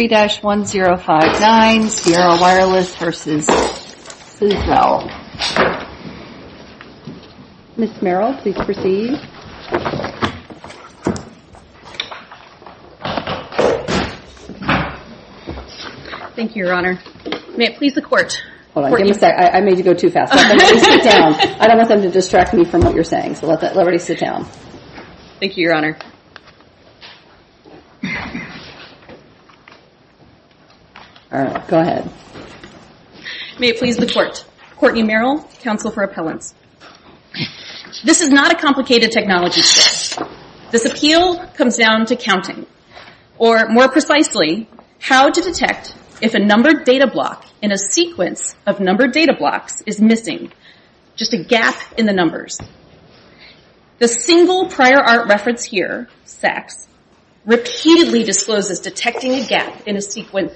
Ms. Merrill, please proceed. Thank you, Your Honor. May it please the Court. I made you go too fast. I don't want them to distract me from what you're saying, so I'll let that liberty sit down. Thank you, Your Honor. All right, go ahead. May it please the Court. Courtney Merrill, Counsel for Appellants. This is not a complicated technology test. This appeal comes down to counting, or more precisely, how to detect if a numbered data block is missing, just a gap in the numbers. The single prior art reference here, SACS, repeatedly discloses detecting a gap in a sequence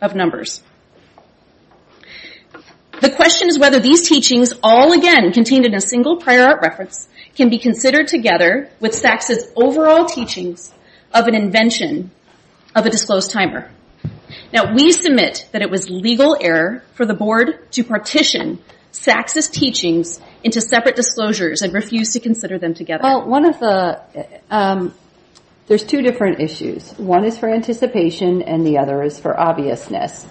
of numbers. The question is whether these teachings, all again contained in a single prior art reference, can be considered together with SACS's overall teachings of an invention of a disclosed timer. We submit that it was legal error for the Board to partition SACS's teachings into separate disclosures and refuse to consider them together. There's two different issues. One is for anticipation, and the other is for obviousness.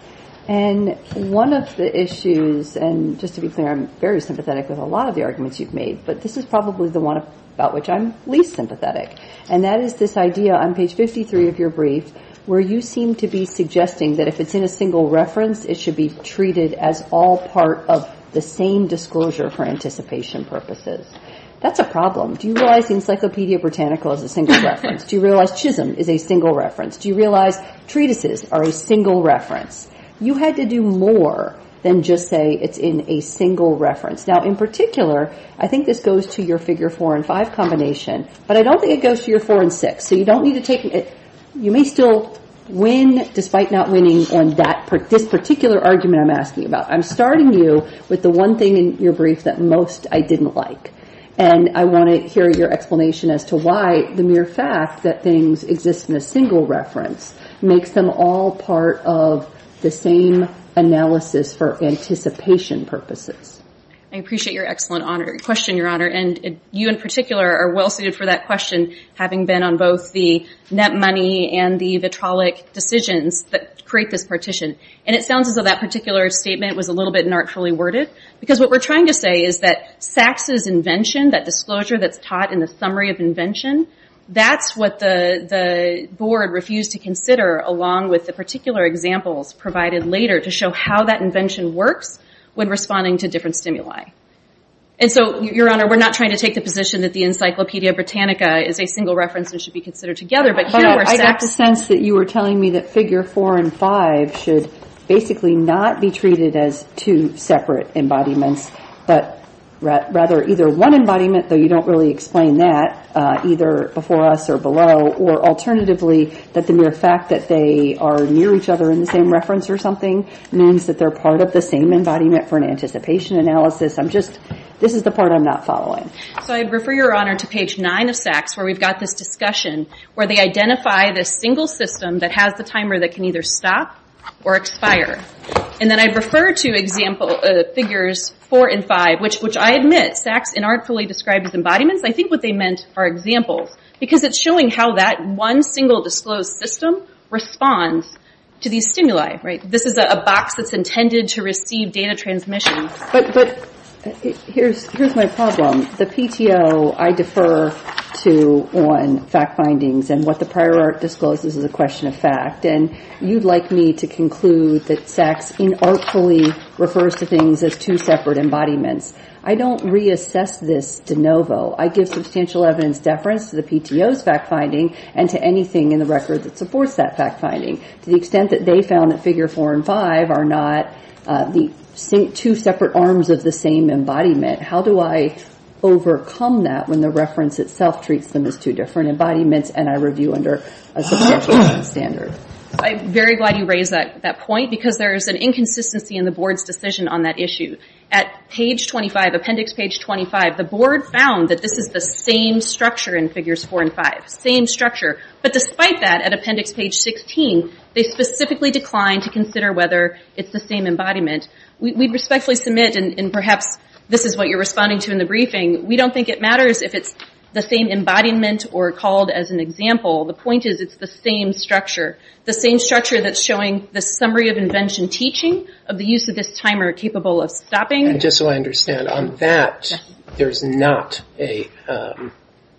And one of the issues, and just to be clear, I'm very sympathetic with a lot of the arguments you've made, but this is probably the one about which I'm least sympathetic. And that is this idea on page 53 of your brief, where you seem to be suggesting that if it's in a single reference, it should be treated as all part of the same disclosure for anticipation purposes. That's a problem. Do you realize the Encyclopedia Britannica is a single reference? Do you realize Chisholm is a single reference? Do you realize treatises are a single reference? You had to do more than just say it's in a single reference. Now, in particular, I think this goes to your Figure 4 and 5 combination, but I don't think it goes to your 4 and 6. So you don't need to take it. You may still win despite not winning on this particular argument I'm asking about. I'm starting you with the one thing in your brief that most I didn't like. And I want to hear your explanation as to why the mere fact that things exist in a single reference makes them all part of the same analysis for anticipation purposes. I appreciate your excellent question, Your Honor. And you, in particular, are well-suited for that question, having been on both the net money and the vitrolic decisions that create this partition. And it sounds as though that particular statement was a little bit not fully worded. Because what we're trying to say is that Sachs' invention, that disclosure that's taught in the summary of invention, that's what the board refused to consider along with the particular examples provided later to show how that invention works when responding to different stimuli. And so, Your Honor, we're not trying to take the position that the Encyclopedia Britannica is a single reference and should be considered together. But here we're saying... But I got the sense that you were telling me that figure four and five should basically not be treated as two separate embodiments, but rather either one embodiment, though you don't really explain that, either before us or below. Or alternatively, that the mere fact that they are near each other in the same reference or something means that they're part of the same embodiment for an anticipation analysis. I'm just... This is the part I'm not following. So I refer, Your Honor, to page nine of Sachs where we've got this discussion where they identify this single system that has the timer that can either stop or expire. And then I refer to example figures four and five, which I admit Sachs inartfully described as embodiments. I think what they meant are examples. Because it's showing how that one single disclosed system responds to these stimuli, right? This is a box that's intended to receive data transmission. But here's my problem. The PTO, I defer to on fact findings and what the prior art discloses is a question of fact. And you'd like me to conclude that Sachs inartfully refers to things as two separate embodiments. I don't reassess this de novo. I give substantial evidence deference to the PTO's fact finding and to anything in the record that supports that fact finding. To the extent that they found that figure four and five are not the two separate arms of the same embodiment, how do I overcome that when the reference itself treats them as two different embodiments and I review under a subsequent standard? I'm very glad you raised that point because there is an inconsistency in the board's decision on that issue. At page 25, appendix page 25, the board found that this is the same structure in figures four and five. Same structure. But despite that, at appendix page 16, they specifically declined to consider whether it's the same embodiment. We respectfully submit and perhaps this is what you're responding to in the briefing, we don't think it matters if it's the same embodiment or called as an example. The point is it's the same structure. The same structure that's showing the summary of invention teaching of the use of this timer capable of stopping. Just so I understand, on that, there's not a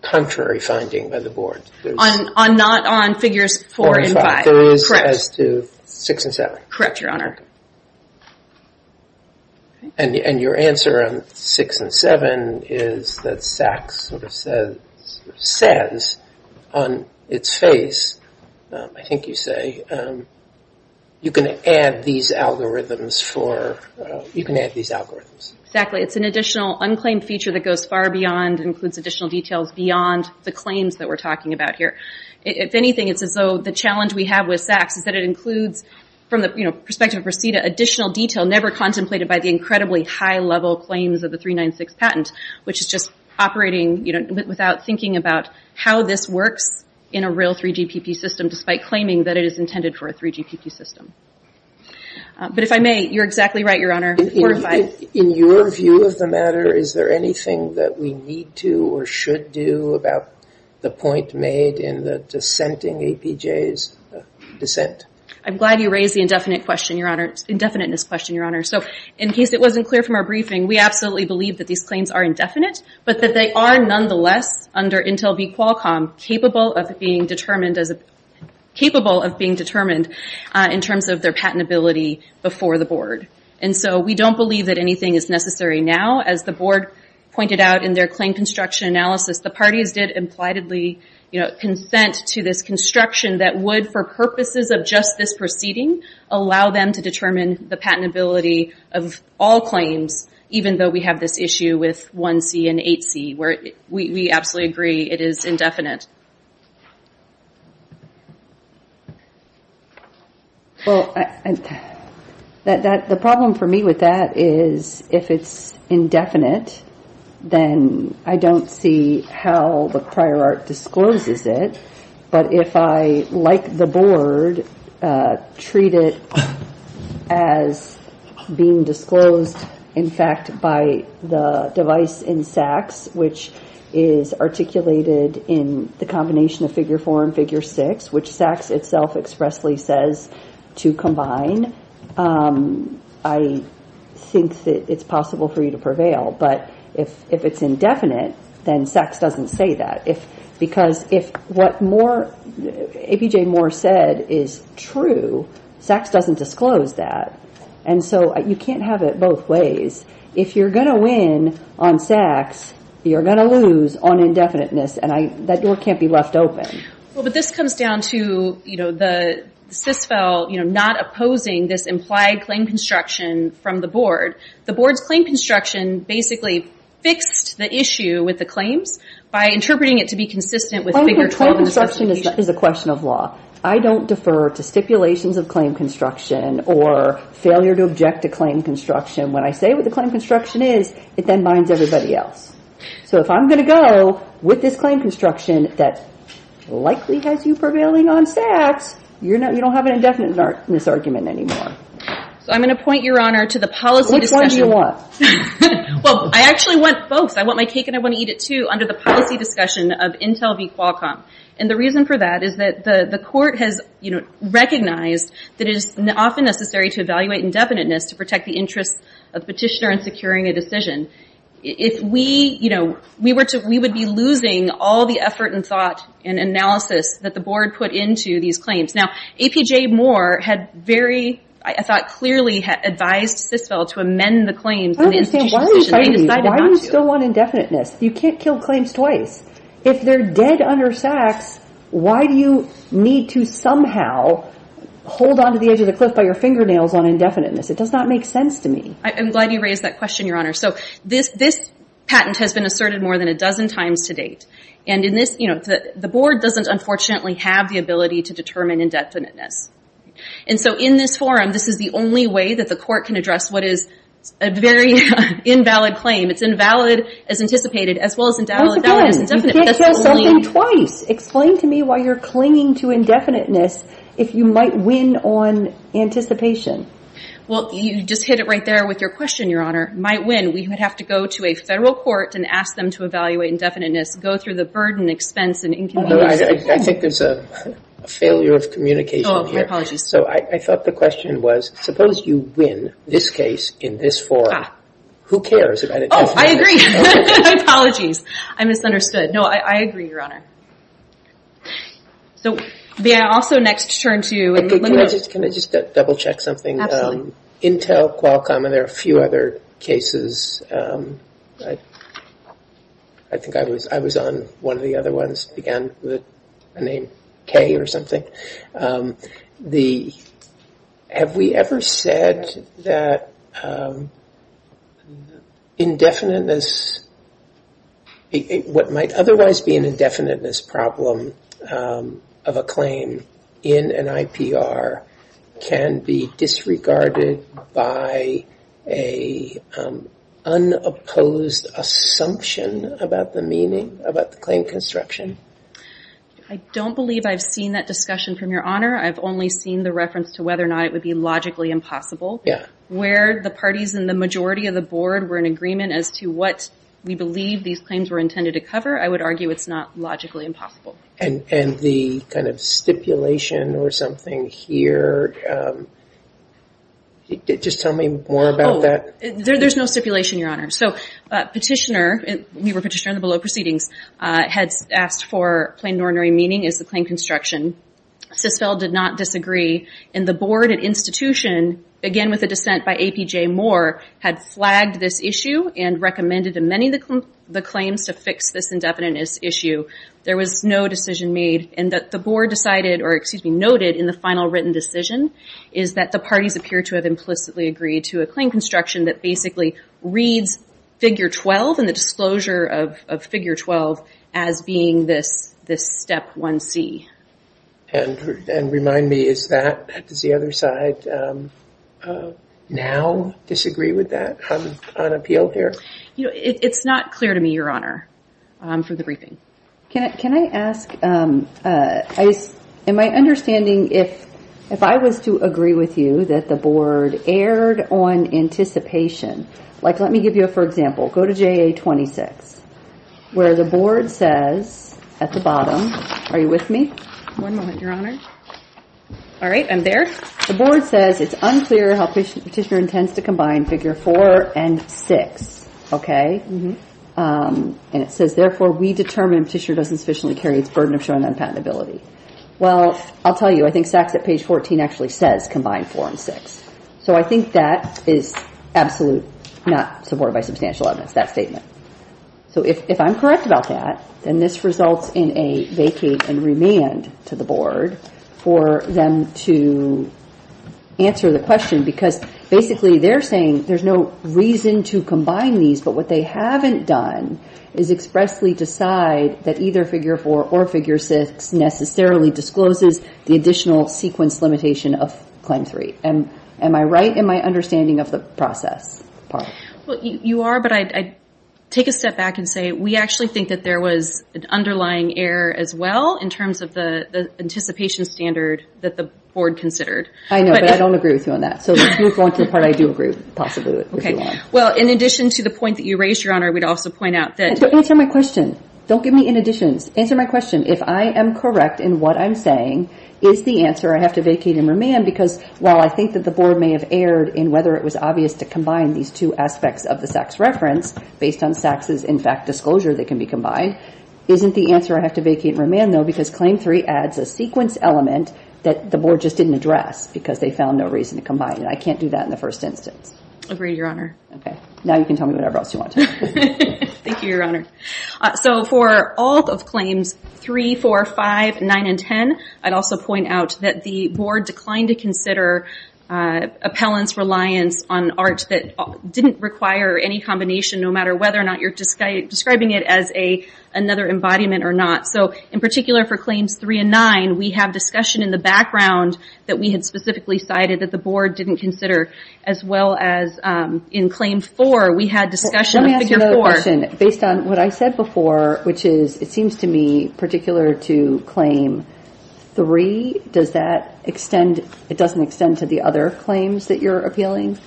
contrary finding by the board? Not on figures four and five. There is as to six and seven. Correct, your honor. Your answer on six and seven is that SACS says on its face, I think you say, you can add these algorithms. Exactly. It's an additional unclaimed feature that goes far beyond and includes additional details beyond the claims that we're talking about here. If anything, it's as though the challenge we have with SACS is that it includes, from the perspective of RASIDA, additional detail never contemplated by the incredibly high level claims of the 396 patent, which is just operating without thinking about how this works in a real 3GPP system despite claiming that it is intended for a 3GPP system. If I may, you're exactly right, your honor. In your view of the matter, is there anything that we need to or should do about the point made in the dissenting APJ's dissent? I'm glad you raised the indefiniteness question, your honor. In case it wasn't clear from our briefing, we absolutely believe that these claims are indefinite, but that they are nonetheless under Intel v. Qualcomm, capable of being determined in terms of their patentability before the board. We don't believe that anything is necessary now. As the board pointed out in their claim construction analysis, the parties did impliedly consent to this construction that would, for purposes of just this proceeding, allow them to determine the patentability of all claims, even though we have this issue with 1C and 8C, where we absolutely agree it is indefinite. The problem for me with that is if it's indefinite, then I don't see how the prior art discloses it, but if I, like the board, treat it as being disclosed in front of the board, then in fact, by the device in SACS, which is articulated in the combination of figure four and figure six, which SACS itself expressly says to combine, I think that it's possible for you to prevail. But if it's indefinite, then SACS doesn't say that, because if what APJ Moore said is true, SACS doesn't disclose that. And so you can't have it both ways. If you're going to win on SACS, you're going to lose on indefiniteness, and that door can't be left open. Well, but this comes down to the CISFEL not opposing this implied claim construction from the board. The board's claim construction basically fixed the issue with the claims by interpreting it to be consistent with figure 12 in this application. So the question is a question of law. I don't defer to stipulations of claim construction or failure to object to claim construction. When I say what the claim construction is, it then binds everybody else. So if I'm going to go with this claim construction that likely has you prevailing on SACS, you don't have an indefiniteness argument anymore. So I'm going to point, Your Honor, to the policy discussion. Which one do you want? Well, I actually want both. I want my cake and I want to eat it, too, under the policy discussion of Intel v. Qualcomm. And the reason for that is that the court has recognized that it is often necessary to evaluate indefiniteness to protect the interests of the petitioner in securing a decision. If we were to, we would be losing all the effort and thought and analysis that the board put into these claims. Now, APJ Moore had very, I thought, clearly advised CISFEL to amend the claims in the institution's decision, and they decided not to. But you still want indefiniteness. You can't kill claims twice. If they're dead under SACS, why do you need to somehow hold onto the edge of the cliff by your fingernails on indefiniteness? It does not make sense to me. I'm glad you raised that question, Your Honor. So this patent has been asserted more than a dozen times to date. And in this, you know, the board doesn't unfortunately have the ability to determine indefiniteness. And so in this forum, this is the only way that the court can address what is a very invalid claim. It's invalid as anticipated, as well as invalid as indefinite. But again, you can't kill something twice. Explain to me why you're clinging to indefiniteness if you might win on anticipation. Well, you just hit it right there with your question, Your Honor. Might win. We would have to go to a federal court and ask them to evaluate indefiniteness, go through the burden, expense, and inconvenience. I think there's a failure of communication here. Oh, my apologies. So I thought the question was, suppose you win this case in this forum. Who cares about indefiniteness? Oh, I agree. Apologies. I misunderstood. No, I agree, Your Honor. Can I just double check something? Intel, Qualcomm, and there are a few other cases. I think I was on one of the other ones. Again, a name K or something. Have we ever said that what might otherwise be an indefiniteness problem of a claim in an IPR can be disregarded by an unopposed assumption about the meaning, about the claim construction? I don't believe I've seen that discussion from Your Honor. I've only seen the reference to whether or not it would be logically impossible. Where the parties and the majority of the board were in agreement as to what we believe these claims were intended to cover, I would argue it's not logically impossible. And the kind of stipulation or something here, just tell me more about that. There's no stipulation, Your Honor. Petitioner, we were petitioner in the below proceedings, had asked for plain and ordinary meaning as the claim construction. Sisfeld did not disagree. And the board and institution, again with a dissent by APJ Moore, had flagged this issue and recommended in many of the claims to fix this indefiniteness issue. There was no decision made and that the board decided, or excuse me, noted in the final written decision, is that the parties appear to have implicitly agreed to a claim construction that basically reads figure 12 and the disclosure of figure 12 as being this step 1C. And remind me, is that, does the other side now disagree with that on appeal here? It's not clear to me, Your Honor, for the briefing. Can I ask, in my understanding, if I was to agree with you that the board erred on anticipation, like let me give you, for example, go to JA 26, where the board says at the bottom, are you with me? One moment, Your Honor. All right, I'm there. The board says it's unclear how Petitioner intends to combine figure 4 and 6, okay? And it says, therefore, we determine Petitioner doesn't sufficiently carry its burden of showing unpatentability. Well, I'll tell you, I think SACS at page 14 actually says combine 4 and 6. So I think that is absolute, not supported by substantial evidence, that statement. So if I'm correct about that, then this results in a vacate and remand to the board for them to answer the question, because basically they're saying there's no reason to combine these, but what they haven't done is expressly decide that either figure 4 or figure 6 necessarily discloses the additional sequence limitation of claim 3. Am I right in my understanding of the process part? Well, you are, but I'd take a step back and say we actually think that there was an underlying error as well in terms of the anticipation standard that the board considered. I know, but I don't agree with you on that. So if you want your part, I do agree, possibly, if you want. Well, in addition to the point that you raised, Your Honor, we'd also point out that... Don't answer my question. Don't give me in additions. Answer my question. If I am correct in what I'm saying, is the answer I have to vacate and remand? Because while I think that the board may have erred in whether it was obvious to combine these two aspects of the SACS reference based on SACS's, in fact, disclosure that can be combined, isn't the answer I have to vacate and remand, though, because claim 3 adds a sequence element that the board just didn't address because they found no reason to combine it. I can't do that in the first instance. Agreed, Your Honor. Okay. Now you can tell me whatever else you want to know. Thank you, Your Honor. So for all of claims 3, 4, 5, 9, and 10, I'd also point out that the board declined to consider appellant's reliance on art that didn't require any combination, no matter whether or not you're describing it as another embodiment or not. So in particular for claims 3 and 9, we have discussion in the background that we had specifically cited that the board didn't consider, as well as in claim 4, we had discussion of figure 4. Let me ask you another question. Based on what I said before, which is, it seems to be particular to claim 3, does that extend, it doesn't extend to the other claims that you're appealing?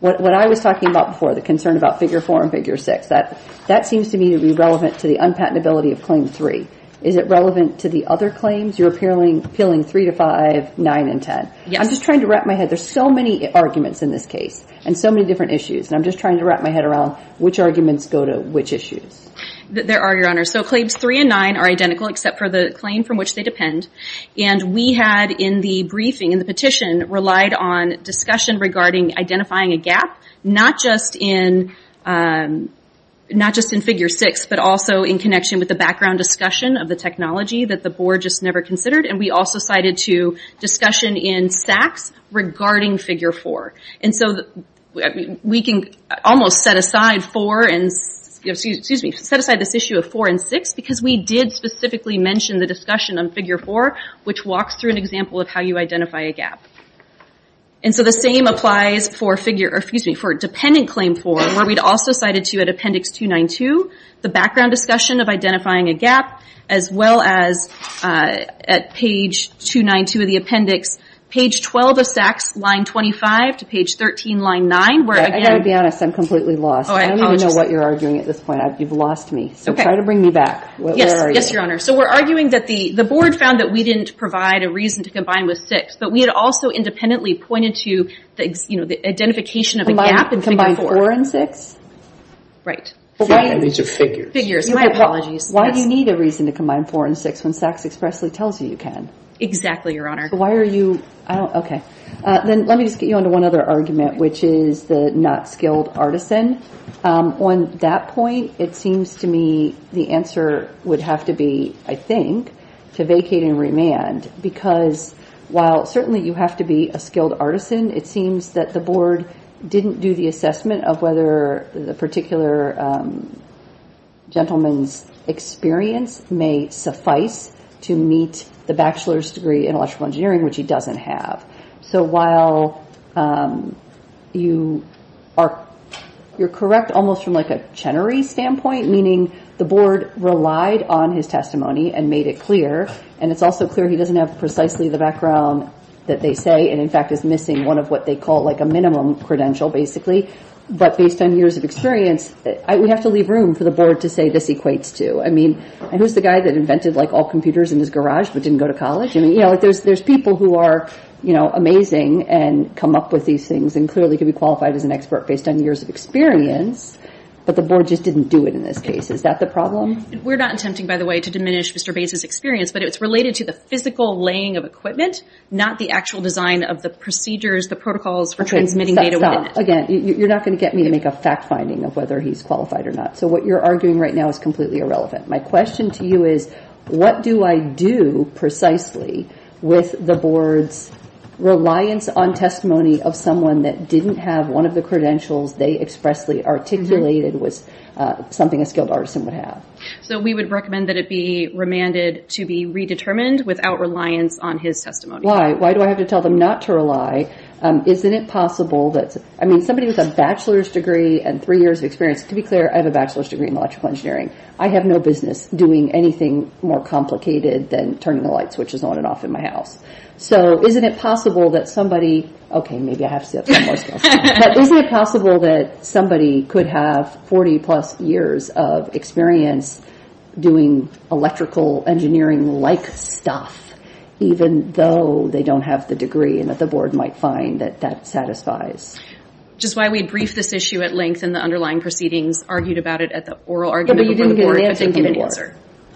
What I was talking about before, the concern about figure 4 and figure 6, that seems to me to be relevant to the unpatentability of claim 3. Is it relevant to the other claims you're appealing 3 to 5, 9, and 10? Yes. I'm just trying to wrap my head. There's so many arguments in this case and so many different issues, and I'm just trying to wrap my head around which arguments go to which issues. There are, Your Honor. So claims 3 and 9 are identical, except for the claim from which they depend. And we had in the briefing, in the petition, relied on discussion regarding identifying a gap, not just in figure 6, but also in connection with the background discussion of the technology that the board just never considered. And we also cited to discussion in SACS regarding figure 4. And so we can almost set aside 4 and, excuse me, figure 6, set aside this issue of 4 and 6, because we did specifically mention the discussion on figure 4, which walks through an example of how you identify a gap. And so the same applies for dependent claim 4, where we'd also cited to at Appendix 292, the background discussion of identifying a gap, as well as at page 292 of the appendix, page 12 of SACS, line 25, to page 13, line 9, where again... I've got to be honest. I'm completely lost. Oh, I apologize. I know what you're arguing at this point. You've lost me. So try to bring me back. Yes, Your Honor. So we're arguing that the board found that we didn't provide a reason to combine with 6, but we had also independently pointed to the identification of a gap in figure 4. Combine 4 and 6? Right. Figures. My apologies. Why do you need a reason to combine 4 and 6, when SACS expressly tells you you can? Exactly, Your Honor. Why are you... Okay. Then let me just get you onto one other argument, which is the skilled artisan. On that point, it seems to me the answer would have to be, I think, to vacate and remand, because while certainly you have to be a skilled artisan, it seems that the board didn't do the assessment of whether the particular gentleman's experience may suffice to meet the bachelor's degree in electrical engineering, which he doesn't have. So while you're correct almost from a Chenery standpoint, meaning the board relied on his testimony and made it clear, and it's also clear he doesn't have precisely the background that they say, and in fact is missing one of what they call a minimum credential, basically. But based on years of experience, we have to leave room for the board to say this equates to. I mean, who's the guy that invented all computers in his garage but didn't go to college? There's people who are amazing and come up with these things and clearly could be qualified as an expert based on years of experience, but the board just didn't do it in this case. Is that the problem? We're not attempting, by the way, to diminish Mr. Bates' experience, but it's related to the physical laying of equipment, not the actual design of the procedures, the protocols for transmitting data. Stop. Again, you're not going to get me to make a fact finding of whether he's qualified or not. So what you're arguing right now is completely irrelevant. My question to you is, what do I do precisely with the board's reliance on testimony of someone that didn't have one of the credentials they expressly articulated was something a skilled artisan would have? So we would recommend that it be remanded to be redetermined without reliance on his testimony. Why? Why do I have to tell them not to rely? I mean, somebody with a bachelor's degree and three years of experience, to be clear, I have a bachelor's degree in electrical engineering. I have no business doing anything more complicated than turning the light switches on and off in my house. So isn't it possible that somebody, okay, maybe I have to say that more, but isn't it possible that somebody could have 40 plus years of experience doing electrical engineering like stuff, even though they don't have the degree and that the board might find that that satisfies? Which is why we briefed this issue at length and the underlying proceedings argued about it at the oral argument.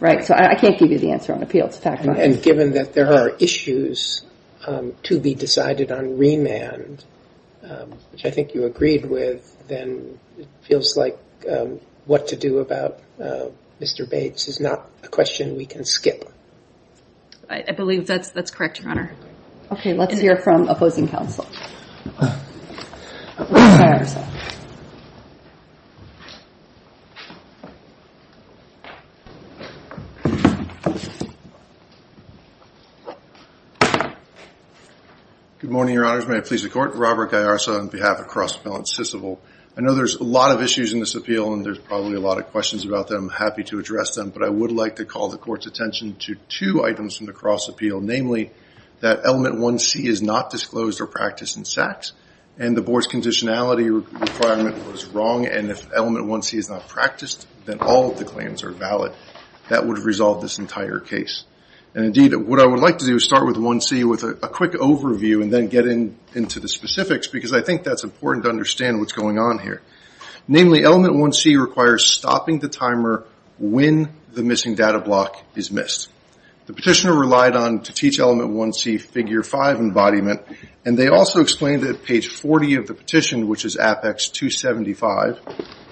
Right. So I can't give you the answer on appeal. It's a fact of life. And given that there are issues to be decided on remand, which I think you agreed with, then it feels like what to do about Mr. Bates is not a question we can skip. I believe that's correct, Your Honor. Okay. Let's hear from opposing counsel. Robert Gallarza. Good morning, Your Honors. May it please the court. Robert Gallarza on behalf of Cross Appeal in Sysilville. I know there's a lot of issues in this appeal and there's probably a lot of questions about them. I'm happy to address them, but I would like to call the court's attention to two items from the Cross Appeal, namely that element 1C is not disclosed or practiced in sex and the board's conditionality requirement was wrong and if element 1C is not practiced, then all of the claims are valid. That would have resolved this entire case. And indeed, what I would like to do is start with 1C with a quick overview and then get into the specifics, because I think that's important to understand what's going on here. Namely, element 1C requires stopping the timer when the missing data block is missed. The petitioner relied on to teach element 1C figure 5 embodiment and they also explained that page 40 of the petition, which is Apex 275,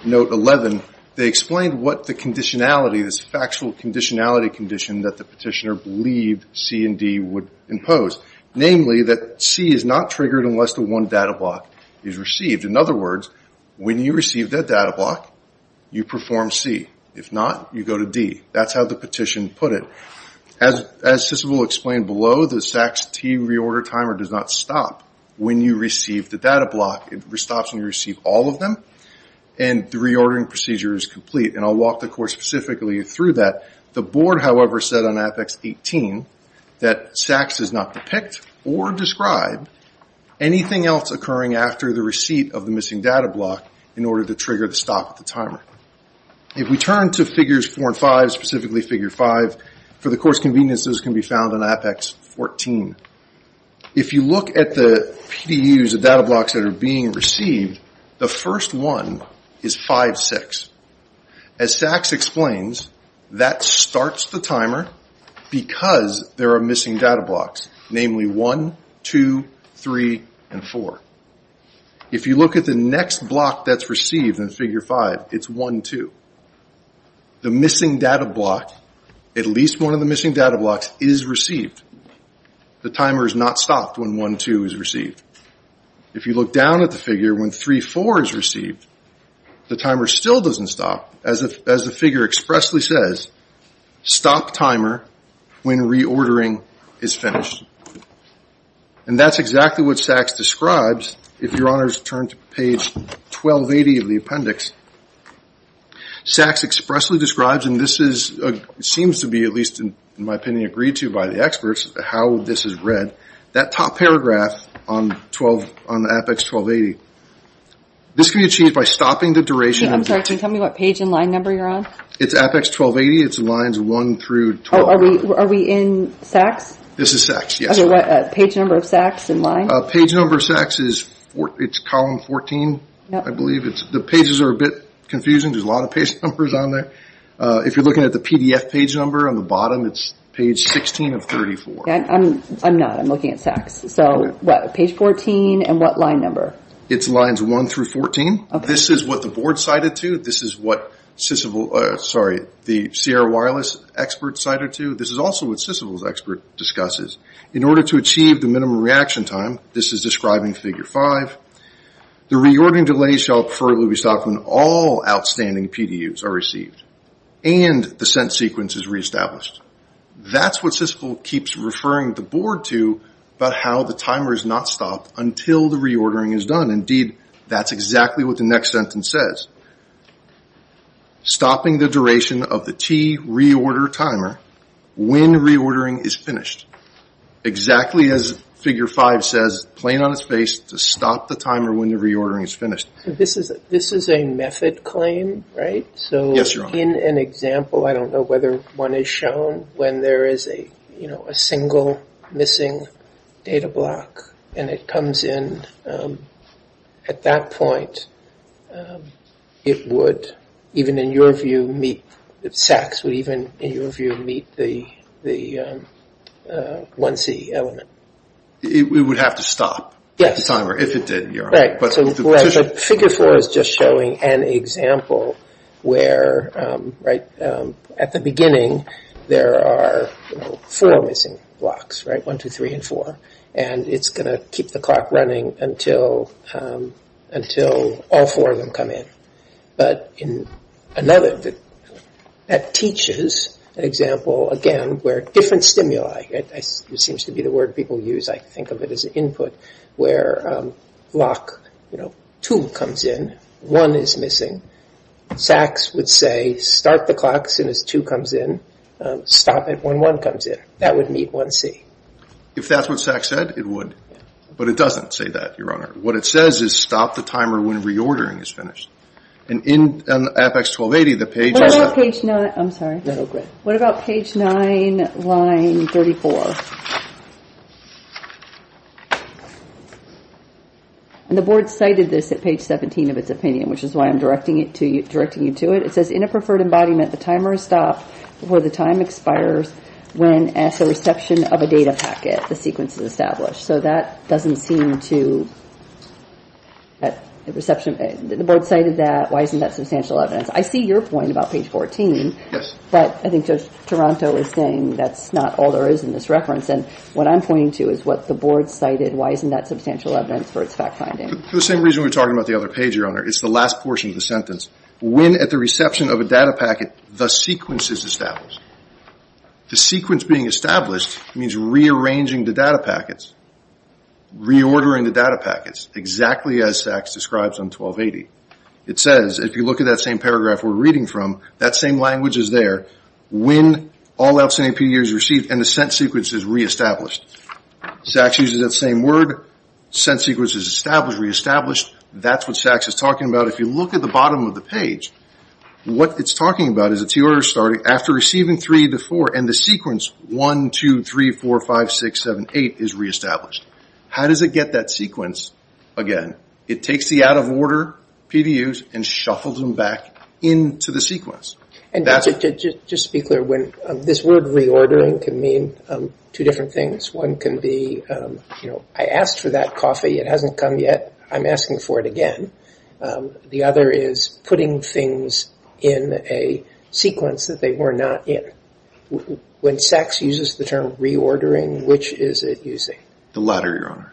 note 11, they explained what the conditionality, this factual conditionality condition that the petitioner believed C and D would impose. Namely that C is not triggered unless the one data block is received. In other words, when you receive that data block, you perform C. If not, you go to D. That's how the petition put it. As Cicil will explain below, the SACS T reorder timer does not stop when you receive the data block. It stops when you receive all of them and the reordering procedure is complete and I'll walk the course specifically through that. The board, however, said on Apex 18 that SACS does not depict or describe anything else occurring after the receipt of the missing data block in order to trigger the stop of the timer. If we turn to figures 4 and 5, specifically figure 5, for the course convenience those can be found on Apex 14. If you look at the PDUs, the data blocks that are being received, the first one is 56. As SACS explains, that starts the timer because there are missing data blocks, namely 1, 2, 3, and 4. If you look at the next block that's received in 1, 2, the missing data block, at least one of the missing data blocks is received. The timer is not stopped when 1, 2 is received. If you look down at the figure when 3, 4 is received, the timer still doesn't stop. As the figure expressly says, stop timer when reordering is finished. And that's exactly what SACS describes if Your Honors turn to page 1280 of the appendix. SACS expressly describes, and this seems to be at least in my opinion agreed to by the experts, how this is read. That top paragraph on Apex 1280, this can be achieved by stopping the duration. Can you tell me what page and line number you're on? It's Apex 1280, it's lines 1 through 12. Are we in SACS? This is SACS, yes. Page number of SACS and line? Page number of SACS is column 14, I believe. The pages are a bit confusing, there's a lot of page numbers on there. If you're looking at the PDF page number on the bottom, it's page 16 of 34. I'm not, I'm looking at SACS. So what, page 14, and what line number? It's lines 1 through 14. This is what the board cited to, this is what the Sierra Wireless experts cited to, this is also what SISVL's expert discusses. In order to achieve the minimum reaction time, this is describing figure 5, the reordering delay shall preferably be stopped when all outstanding PDUs are received and the sent sequence is reestablished. That's what SISVL keeps referring the board to about how the timer is not stopped until the reordering is done. Indeed, that's exactly what the next sentence says. Stopping the duration of the T reorder timer when reordering is finished. Exactly as figure 5 says, plain on its face, to stop the timer when the reordering is finished. This is a method claim, right? Yes, your honor. In an example, I don't know whether one is shown, when there is a single missing data block and it comes in at that point, it would, even in your view, meet, SACS would even in the SACS element. It would have to stop the timer if it did, your honor. Right, so figure 4 is just showing an example where at the beginning there are four missing blocks, right, 1, 2, 3, and 4, and it's going to keep the clock running until all four of them come in. But in another, that teaches an example again where different stimuli, it seems to be the word people use, I think of it as input, where block 2 comes in, 1 is missing, SACS would say start the clock as soon as 2 comes in, stop it when 1 comes in. That would meet 1C. If that's what SACS said, it would. But it doesn't say that, your honor. What it says is stop the timer when reordering is finished. And in Apex 1280, the page... What about page 9, line 34? And the board cited this at page 17 of its opinion, which is why I'm directing you to it. It says in a preferred embodiment, the timer is stopped before the time expires when as a reception of a data packet, the sequence is established. So that doesn't seem to... The board cited that, why isn't that substantial evidence? I see your point about page 14, but I think Judge Toronto is saying that's not all there is in this reference. And what I'm pointing to is what the board cited, why isn't that substantial evidence for its fact finding? For the same reason we were talking about the other page, your honor. It's the last portion of the sentence. When at the reception of a data packet, the sequence is established. The sequence being established means rearranging the data packets, reordering the data packets, exactly as SACS describes on 1280. It says, if you look at that same paragraph we're reading from, that same language is there, when all outside APD is received and the sent sequence is reestablished. SACS uses that same word, sent sequence is established, reestablished. That's what SACS is talking about. If you look at the bottom of the page, what it's saying 3 to 4, and the sequence 1, 2, 3, 4, 5, 6, 7, 8 is reestablished. How does it get that sequence again? It takes the out of order PDUs and shuffles them back into the sequence. Just to be clear, this word reordering can mean two different things. One can be, I asked for that coffee, it hasn't come yet, I'm asking for it again. The other is putting things in a sequence that they were not in. When SACS uses the term reordering, which is it using? The latter, Your Honor.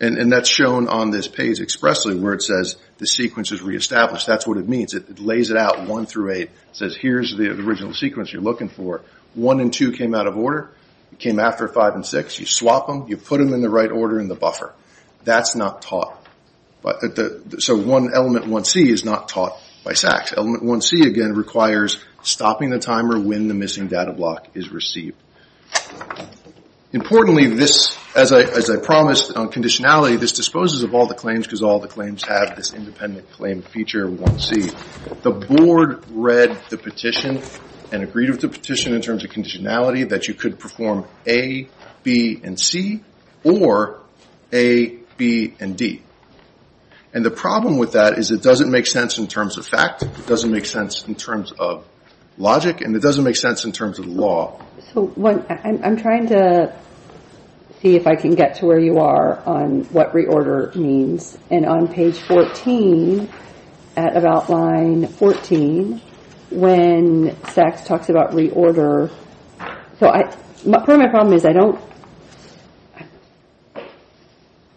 And that's shown on this page expressly where it says the sequence is reestablished. That's what it means. It lays it out 1 through 8. It says here's the original sequence you're looking for. 1 and 2 came out of order. It came after 5 and 6. You swap them. You put them in the right order in the buffer. That's not taught. So one element 1C is not taught by SACS. Element 1C again requires stopping the timer when the missing data block is received. Importantly, as I promised on conditionality, this disposes of all the claims because all the claims have this independent claim feature 1C. The board read the petition and agreed with the petition in terms of conditionality that you could perform A, B, and C or A, B, and D. And the problem with that is it doesn't make sense in terms of fact. It doesn't make sense in terms of logic. And it doesn't make sense in terms of the law. I'm trying to see if I can get to where you are on what reorder means. And on page 14 at about line 14, when SACS talks about reorder, part of my problem is I don't,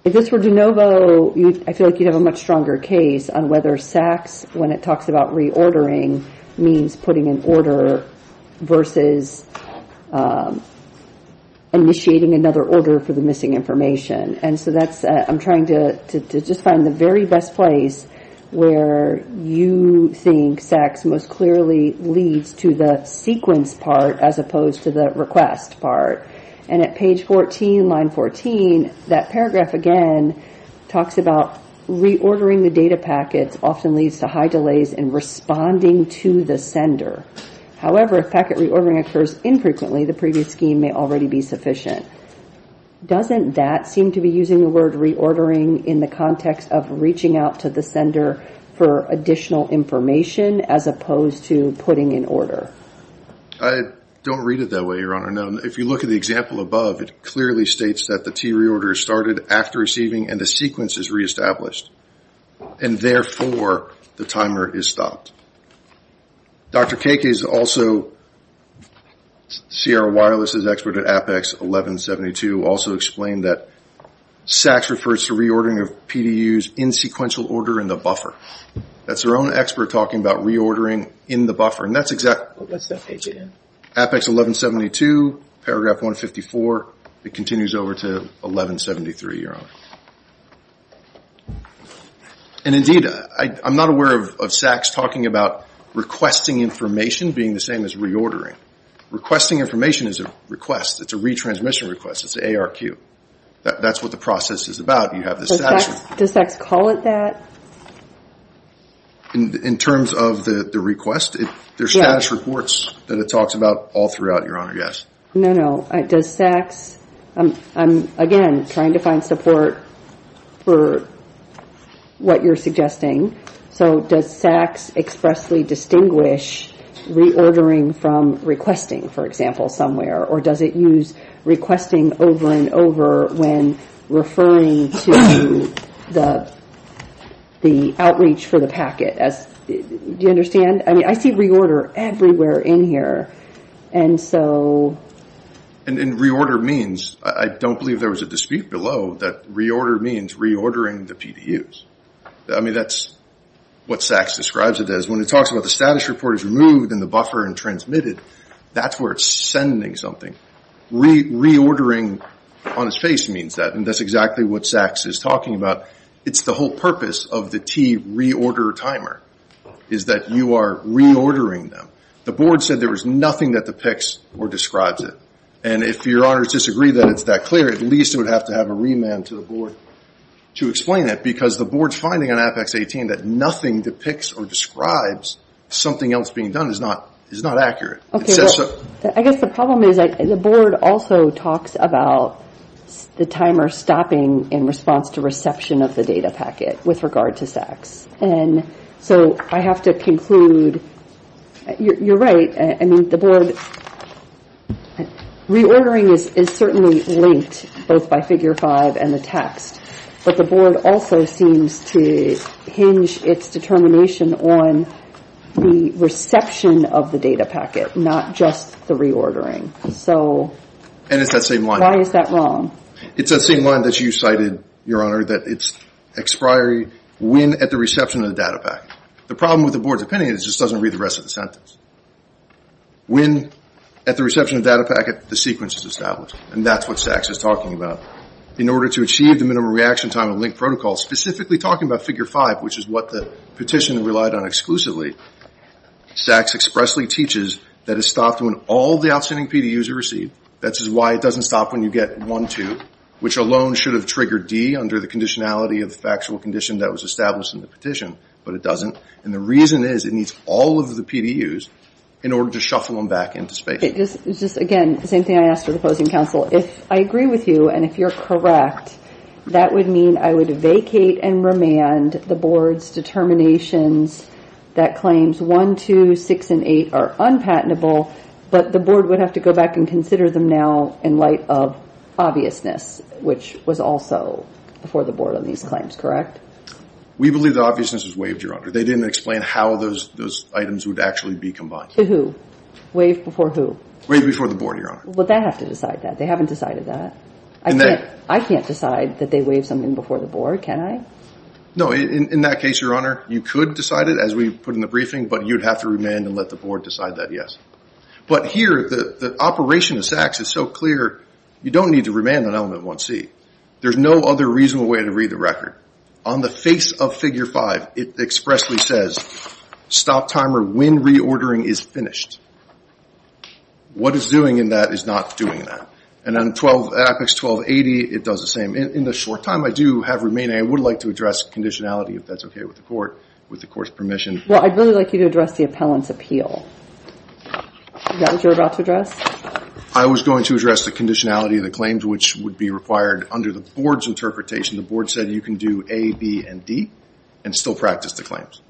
if this were de novo, I feel like you'd have a much stronger case on whether SACS when it talks about reordering means putting an order versus initiating another order for the missing information. And so that's, I'm trying to just find the very best place where you think SACS most clearly leads to the sequence part as opposed to the request part. And at page 14, line 14, that paragraph again talks about reordering the data packets often leads to high delays in responding to the sender. However, if packet reordering occurs infrequently, the previous scheme may already be sufficient. Doesn't that seem to be using the word reordering in the context of reaching out to the sender for additional information as opposed to putting an order? I don't read it that way, Your Honor. No. If you look at the example above, it clearly states that the T reorder started after receiving and the sequence is reestablished. And therefore, the timer is stopped. Dr. Kakey is also, CRO Wireless is an expert at APEX 1172, also explained that SACS refers to reordering of PDUs in sequential order in the buffer. That's their own expert talking about reordering in the buffer. And that's exactly... What's that page again? APEX 1172, paragraph 154, it continues over to 1173, Your Honor. And indeed, I'm not aware of SACS talking about requesting information being the same as reordering. Requesting information is a request. It's a retransmission request. It's an ARQ. That's what the process is about. You have this section. Does SACS call it that? In terms of the request, there's status reports that it talks about all throughout, Your Honor, yes. No, no. Does SACS... I'm, again, trying to find support for what you're suggesting. So does SACS expressly distinguish reordering from requesting, for instance, referring to the outreach for the packet? Do you understand? I see reorder everywhere in here. And so... And reorder means... I don't believe there was a dispute below that reorder means reordering the PDUs. I mean, that's what SACS describes it as. When it talks about the status report is removed in the buffer and transmitted, that's where it's sending something. Reordering on its face means that. And that's exactly what SACS is talking about. It's the whole purpose of the T, reorder timer, is that you are reordering them. The board said there was nothing that depicts or describes it. And if Your Honors disagree that it's that clear, at least it would have to have a remand to the board to explain that. Because the board's finding on Apex 18 that nothing depicts or describes something else being done is not accurate. Okay, well, I guess the problem is the board also talks about the timer stopping in response to reception of the data packet with regard to SACS. And so I have to conclude, you're right. I mean, the board... Reordering is certainly linked, both by figure five and the text. But the board also seems to hinge its determination on the reception of the data packet, not just the reordering. So... And it's that same line. Why is that wrong? It's that same line that you cited, Your Honor, that it's expiry when at the reception of the data packet. The problem with the board's opinion is it just doesn't read the rest of the sentence. When at the reception of the data packet, the sequence is established. And that's what SACS is talking about. In order to achieve the minimum reaction time and link protocol, specifically talking about figure five, which is what the petition relied on exclusively, SACS expressly teaches that it's stopped when all the outstanding PDUs are received. That's why it doesn't stop when you get one, two, which alone should have triggered D under the conditionality of factual condition that was established in the petition. But it doesn't. And the reason is it needs all of the PDUs in order to shuffle them back into space. Okay. Just again, the same thing I asked for the opposing counsel. If I agree with you and if you're correct, that would mean I would vacate and remand the board's determinations that claims one, two, six, and eight are unpatentable, but the board would have to go back and consider them now in light of obviousness, which was also before the board on these claims, correct? We believe the obviousness was waived, Your Honor. They didn't explain how those items would actually be combined. To who? Waived before who? Waived before the board, Your Honor. Would they have to decide that? They haven't decided that. I can't decide that they waived something before the board, can I? No. In that case, Your Honor, you could decide it as we put in the briefing, but you'd have to remand and let the board decide that, yes. But here, the operation of SACS is so clear, you don't need to remand on element 1C. There's no other reasonable way to read the record. On the face of figure five, it expressly says stop timer one, two, six, and eight are unpatentable, and I would like you to address the appellant's appeal. Is that what you're about to address? I was going to address the conditionality of the claims, which would be required under the board's interpretation. The board said you can do A, B, and D and still practice the claims.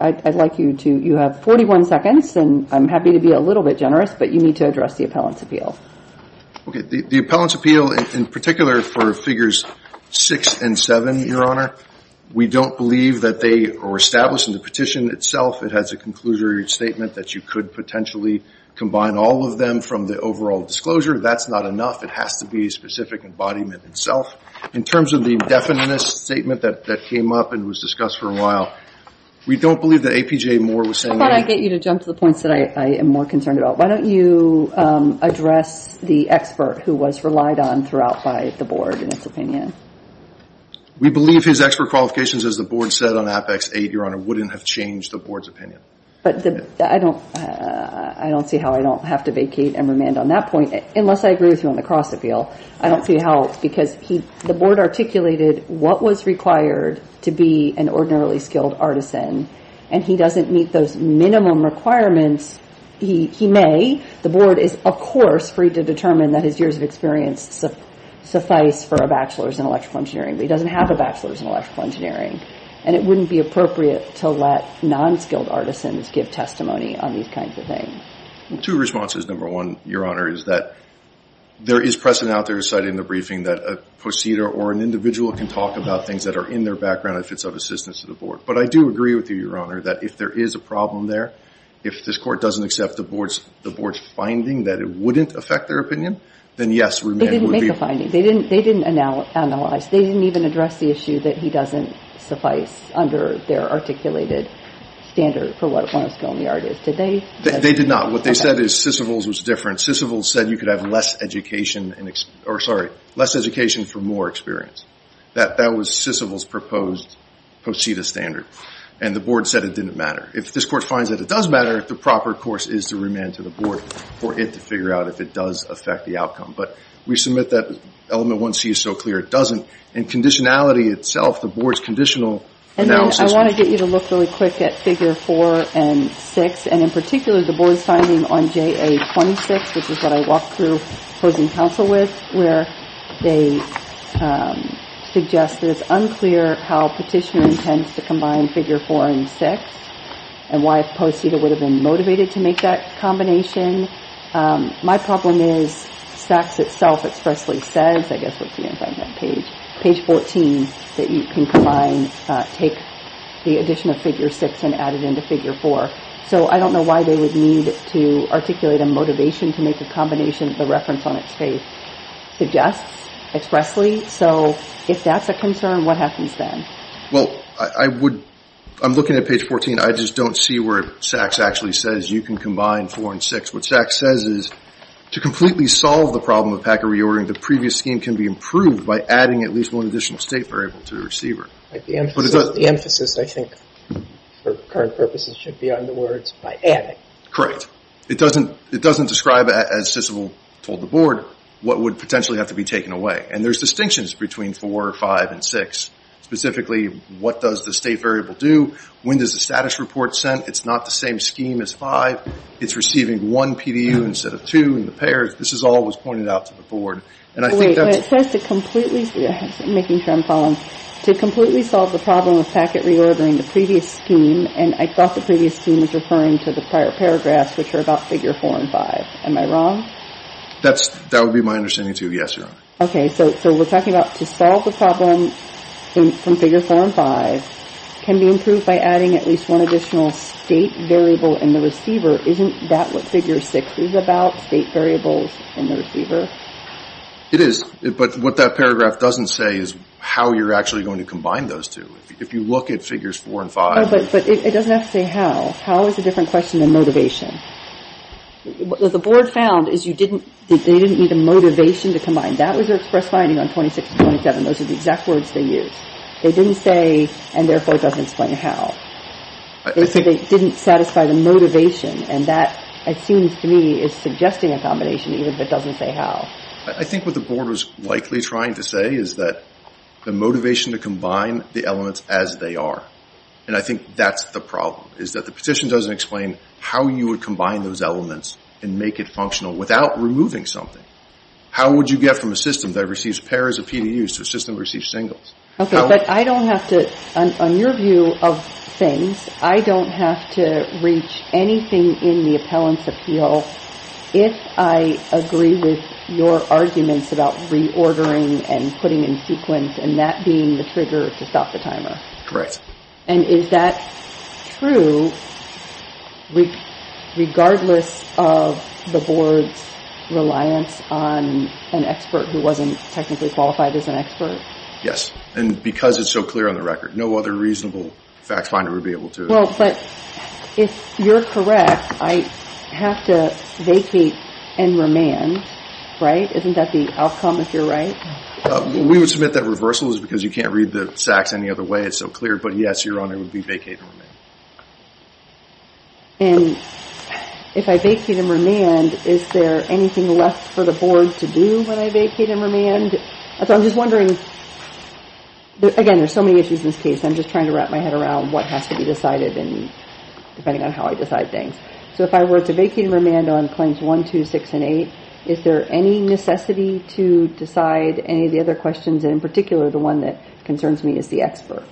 I'd like you to, you have 41 seconds, and I'm happy to be a little bit generous, but you need to address the appellant's appeal. The appellant's appeal, in particular for figures six and seven, Your Honor, we don't believe that they were established in the petition itself. It has a conclusionary statement that you could potentially combine all of them from the overall disclosure. That's not enough. It has to be a specific embodiment itself. In terms of the definiteness statement that came up and was discussed for a while, we don't believe that APJ Moore was saying that. I thought I'd get you to jump to the points that I am more concerned about. Why don't you address the expert who was relied on throughout by the board in its opinion? We believe his expert qualifications, as the board said on Apex 8, Your Honor, wouldn't have changed the board's opinion. I don't see how I don't have to vacate and remand on that point, unless I agree with I don't see how, because the board articulated what was required to be an ordinarily skilled artisan, and he doesn't meet those minimum requirements. He may. The board is, of course, free to determine that his years of experience suffice for a bachelor's in electrical engineering, but he doesn't have a bachelor's in electrical engineering, and it wouldn't be appropriate to let non-skilled artisans give testimony on these kinds of things. Two responses. Number one, Your Honor, is that there is precedent out there cited in the briefing that a proceeder or an individual can talk about things that are in their background if it's of assistance to the board. But I do agree with you, Your Honor, that if there is a problem there, if this court doesn't accept the board's finding that it wouldn't affect their opinion, then yes, remand would be... They didn't make the finding. They didn't analyze. They didn't even address the issue that he doesn't suffice under their articulated standard for what a skilled artisan is. They did not. What they said is Sysivol's was different. Sysivol's said you could have less education for more experience. That was Sysivol's proposed procedure standard, and the board said it didn't matter. If this court finds that it does matter, the proper course is to remand to the board for it to figure out if it does affect the outcome. But we submit that element 1C is so clear it doesn't, and conditionality itself, the board's conditional analysis... I want to get you to look really quick at figure 4 and 6, and in particular, the board's finding on JA 26, which is what I walked through opposing counsel with, where they suggest that it's unclear how petitioner intends to combine figure 4 and 6, and why a post-eater would have been motivated to make that combination. My problem is SACS itself expressly says, I guess what's the inside of that page, page 14, that you can combine, take the addition of figure 6 and add it into figure 4. So I don't know why they would need to articulate a motivation to make a combination the reference on its face suggests expressly. So if that's a concern, what happens then? Well, I would... I'm looking at page 14. I just don't see where SACS actually says you can combine 4 and 6. What SACS says is, to completely solve the problem of packer reordering, the previous scheme can be improved by adding at least one additional state variable to the receiver. The emphasis, I think, for current purposes should be on the words, by adding. Correct. It doesn't describe, as Sissel told the board, what would potentially have to be taken away. And there's distinctions between 4, 5, and 6. Specifically, what does the state variable do? When does the status report send? It's not the same scheme as 5. It's receiving one PDU instead of two in the pairs. This is all that was pointed out to the board. And I think that's... Wait. When it says to completely... I'm making sure I'm following. To completely solve the problem of packet reordering, the previous scheme, and I thought the previous scheme was referring to the prior paragraphs, which are about figure 4 and 5. Am I wrong? That would be my understanding, too. Yes, you're right. Okay. So we're talking about to solve the problem from figure 4 and 5 can be improved by adding at least one additional state variable in the receiver. Isn't that what figure 6 is about? State variables in the receiver? It is. But what that paragraph doesn't say is how you're actually going to combine those two. If you look at figures 4 and 5... But it doesn't have to say how. How is a different question than motivation? What the board found is you didn't... They didn't need the motivation to combine. That was their express finding on 26 and 27. Those are the exact words they used. They didn't say, and therefore doesn't explain how. They said they didn't satisfy the motivation, and that, it seems to me, is suggesting a combination even if it doesn't say how. I think what the board was likely trying to say is that the motivation to combine the elements as they are, and I think that's the problem, is that the petition doesn't explain how you would combine those elements and make it functional without removing something. How would you get from a system that receives pairs of PDUs to a system that receives singles? Okay, but I don't have to... On your view of things, I don't have to reach anything in the appellant's appeal if I agree with your arguments about reordering and putting in sequence and that being the trigger to stop the timer. Correct. And is that true regardless of the board's reliance on an expert who wasn't technically qualified as an expert? Yes, and because it's so clear on the record. No other reasonable fact finder would be able to... Well, but if you're correct, I have to vacate and remand, right? Isn't that the outcome if you're right? We would submit that reversal is because you can't read the sacks any other way. It's so clear, but yes, Your Honor, it would be vacate and remand. And if I vacate and remand, is there anything left for the board to do when I vacate and remand? I'm just wondering, again, there's so many issues in this case. I'm just trying to wrap my head around what has to be decided and depending on how I decide things. So if I were to vacate and remand on claims one, two, six, and eight, is there any necessity to decide any of the other questions? And in particular, the one that concerns me is the expert.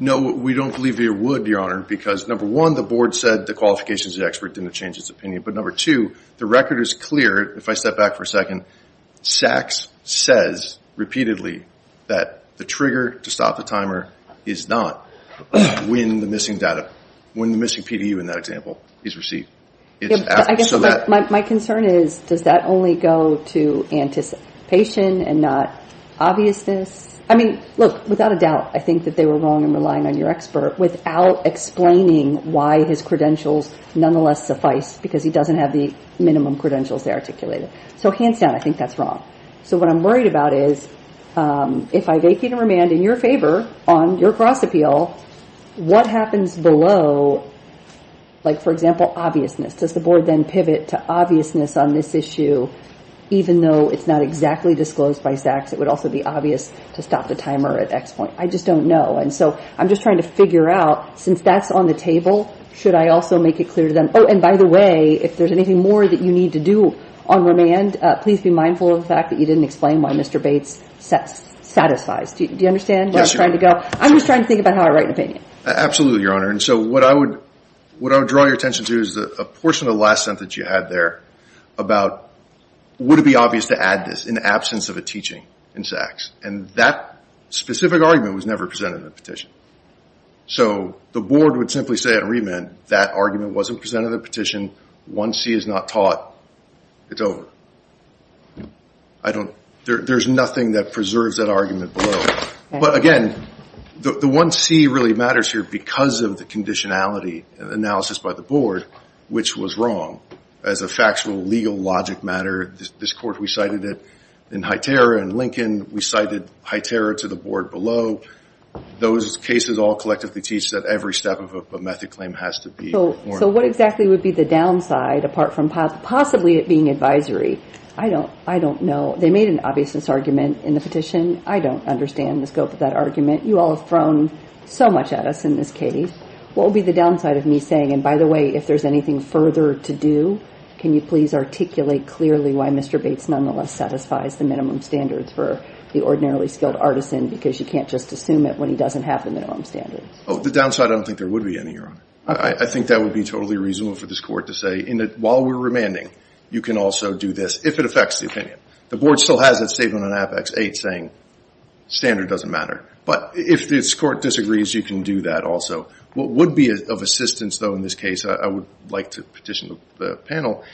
No, we don't believe it would, Your Honor, because number one, the board said the qualifications of the expert didn't change its opinion. But number two, the record is clear. If I step back for a second, Saks says repeatedly that the trigger to stop the timer is not when the missing data, when the missing PDU in that example is received. My concern is, does that only go to anticipation and not obviousness? I mean, look, without a doubt, I think that they were wrong in relying on your expert without explaining why his credentials nonetheless suffice because he doesn't have the minimum credentials they articulated. So hands down, I think that's wrong. So what I'm worried about is, if I vacate and remand in your favor on your cross-appeal, what happens below, like, for example, obviousness? Does the board then pivot to obviousness on this issue even though it's not exactly disclosed by Saks? It would also be obvious to stop the timer at X point. I just don't know. And so I'm just trying to figure out, since that's on the table, should I also make it clear to them, oh, and by the way, if there's anything more that you need to do on remand, please be mindful of the fact that you didn't explain why Mr. Bates satisfies. Do you understand where I'm trying to go? I'm just trying to think about how I write an opinion. Absolutely, Your Honor. And so what I would draw your attention to is a portion of the last sentence you had there about, would it be obvious to add this in the absence of a teaching in Saks? And that specific argument was never presented in the petition. So the board would simply say on remand, that argument wasn't presented in the petition. One C is not taught. It's over. There's nothing that preserves that argument below. But again, the one C really matters here because of the conditionality analysis by the board, which was wrong. As a factual legal logic matter, this court, we cited it in Highterra and Lincoln. We cited Highterra to the board below. Those cases all collectively teach that every step of a method claim has to be ordinary. So what exactly would be the downside, apart from possibly it being advisory? I don't know. They made an obviousness argument in the petition. I don't understand the scope of that argument. You all have thrown so much at us in this case. What would be the downside of me saying, and by the way, if there's anything further to do, can you please articulate clearly why Mr. Bates nonetheless satisfies the minimum standards for the ordinarily skilled artisan because you can't just assume it when he doesn't have the minimum standards? The downside, I don't think there would be any, Your Honor. I think that would be totally reasonable for this court to say, while we're remanding, you can also do this if it affects the opinion. The board still has that statement on Apex 8 saying standard doesn't matter. But if this court disagrees, you can do that also. What would be of assistance, though, in this case, I would like to petition the panel,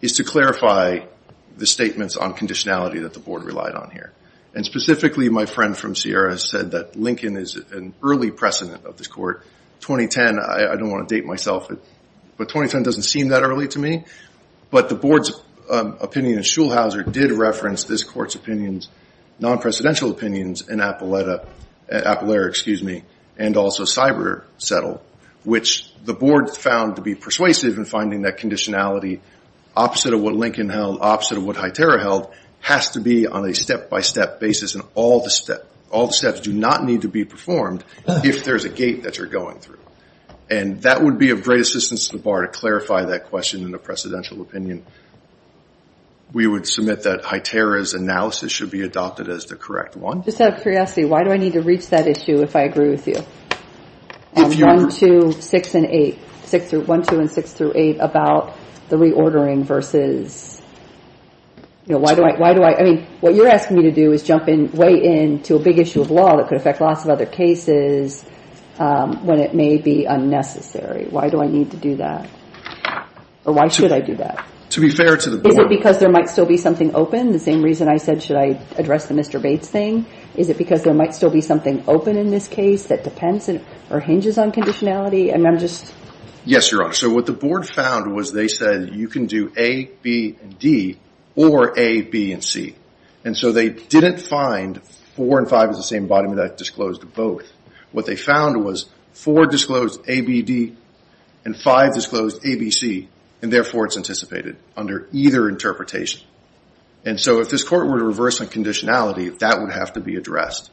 is to clarify the statements on conditionality that the board relied on here. And specifically, my friend from Sierra said that Lincoln is an early precedent of this court. 2010, I don't want to date myself, but 2010 doesn't seem that early to me. But the board's opinion in Schulhauser did reference this court's opinions, non-presidential opinions, in Appalachia and also Cyber Settle, which the board found to be persuasive in finding that conditionality, opposite of what Lincoln held, opposite of what Highterra held, has to be on a step-by-step basis. And all the steps do not need to be transformed if there's a gate that you're going through. And that would be of great assistance to the bar to clarify that question in a precedential opinion. We would submit that Highterra's analysis should be adopted as the correct one. Just out of curiosity, why do I need to reach that issue if I agree with you on 1, 2, 6, and 8, 1, 2 and 6 through 8, about the reordering versus, you know, why do I, I mean, what you're asking me to do is jump in, weigh in to a big issue of law that could affect lots of other cases when it may be unnecessary. Why do I need to do that? Or why should I do that? To be fair to the board. Is it because there might still be something open? The same reason I said, should I address the Mr. Bates thing? Is it because there might still be something open in this case that depends or hinges on conditionality? I mean, I'm just... Yes, Your Honor. So what the board found was they said you can do A, B, and D, or A, B, and C. And so they didn't find 4 and 5 as the same embodiment that disclosed both. What they found was 4 disclosed A, B, D, and 5 disclosed A, B, C, and therefore it's anticipated under either interpretation. And so if this court were to reverse on conditionality, that would have to be addressed.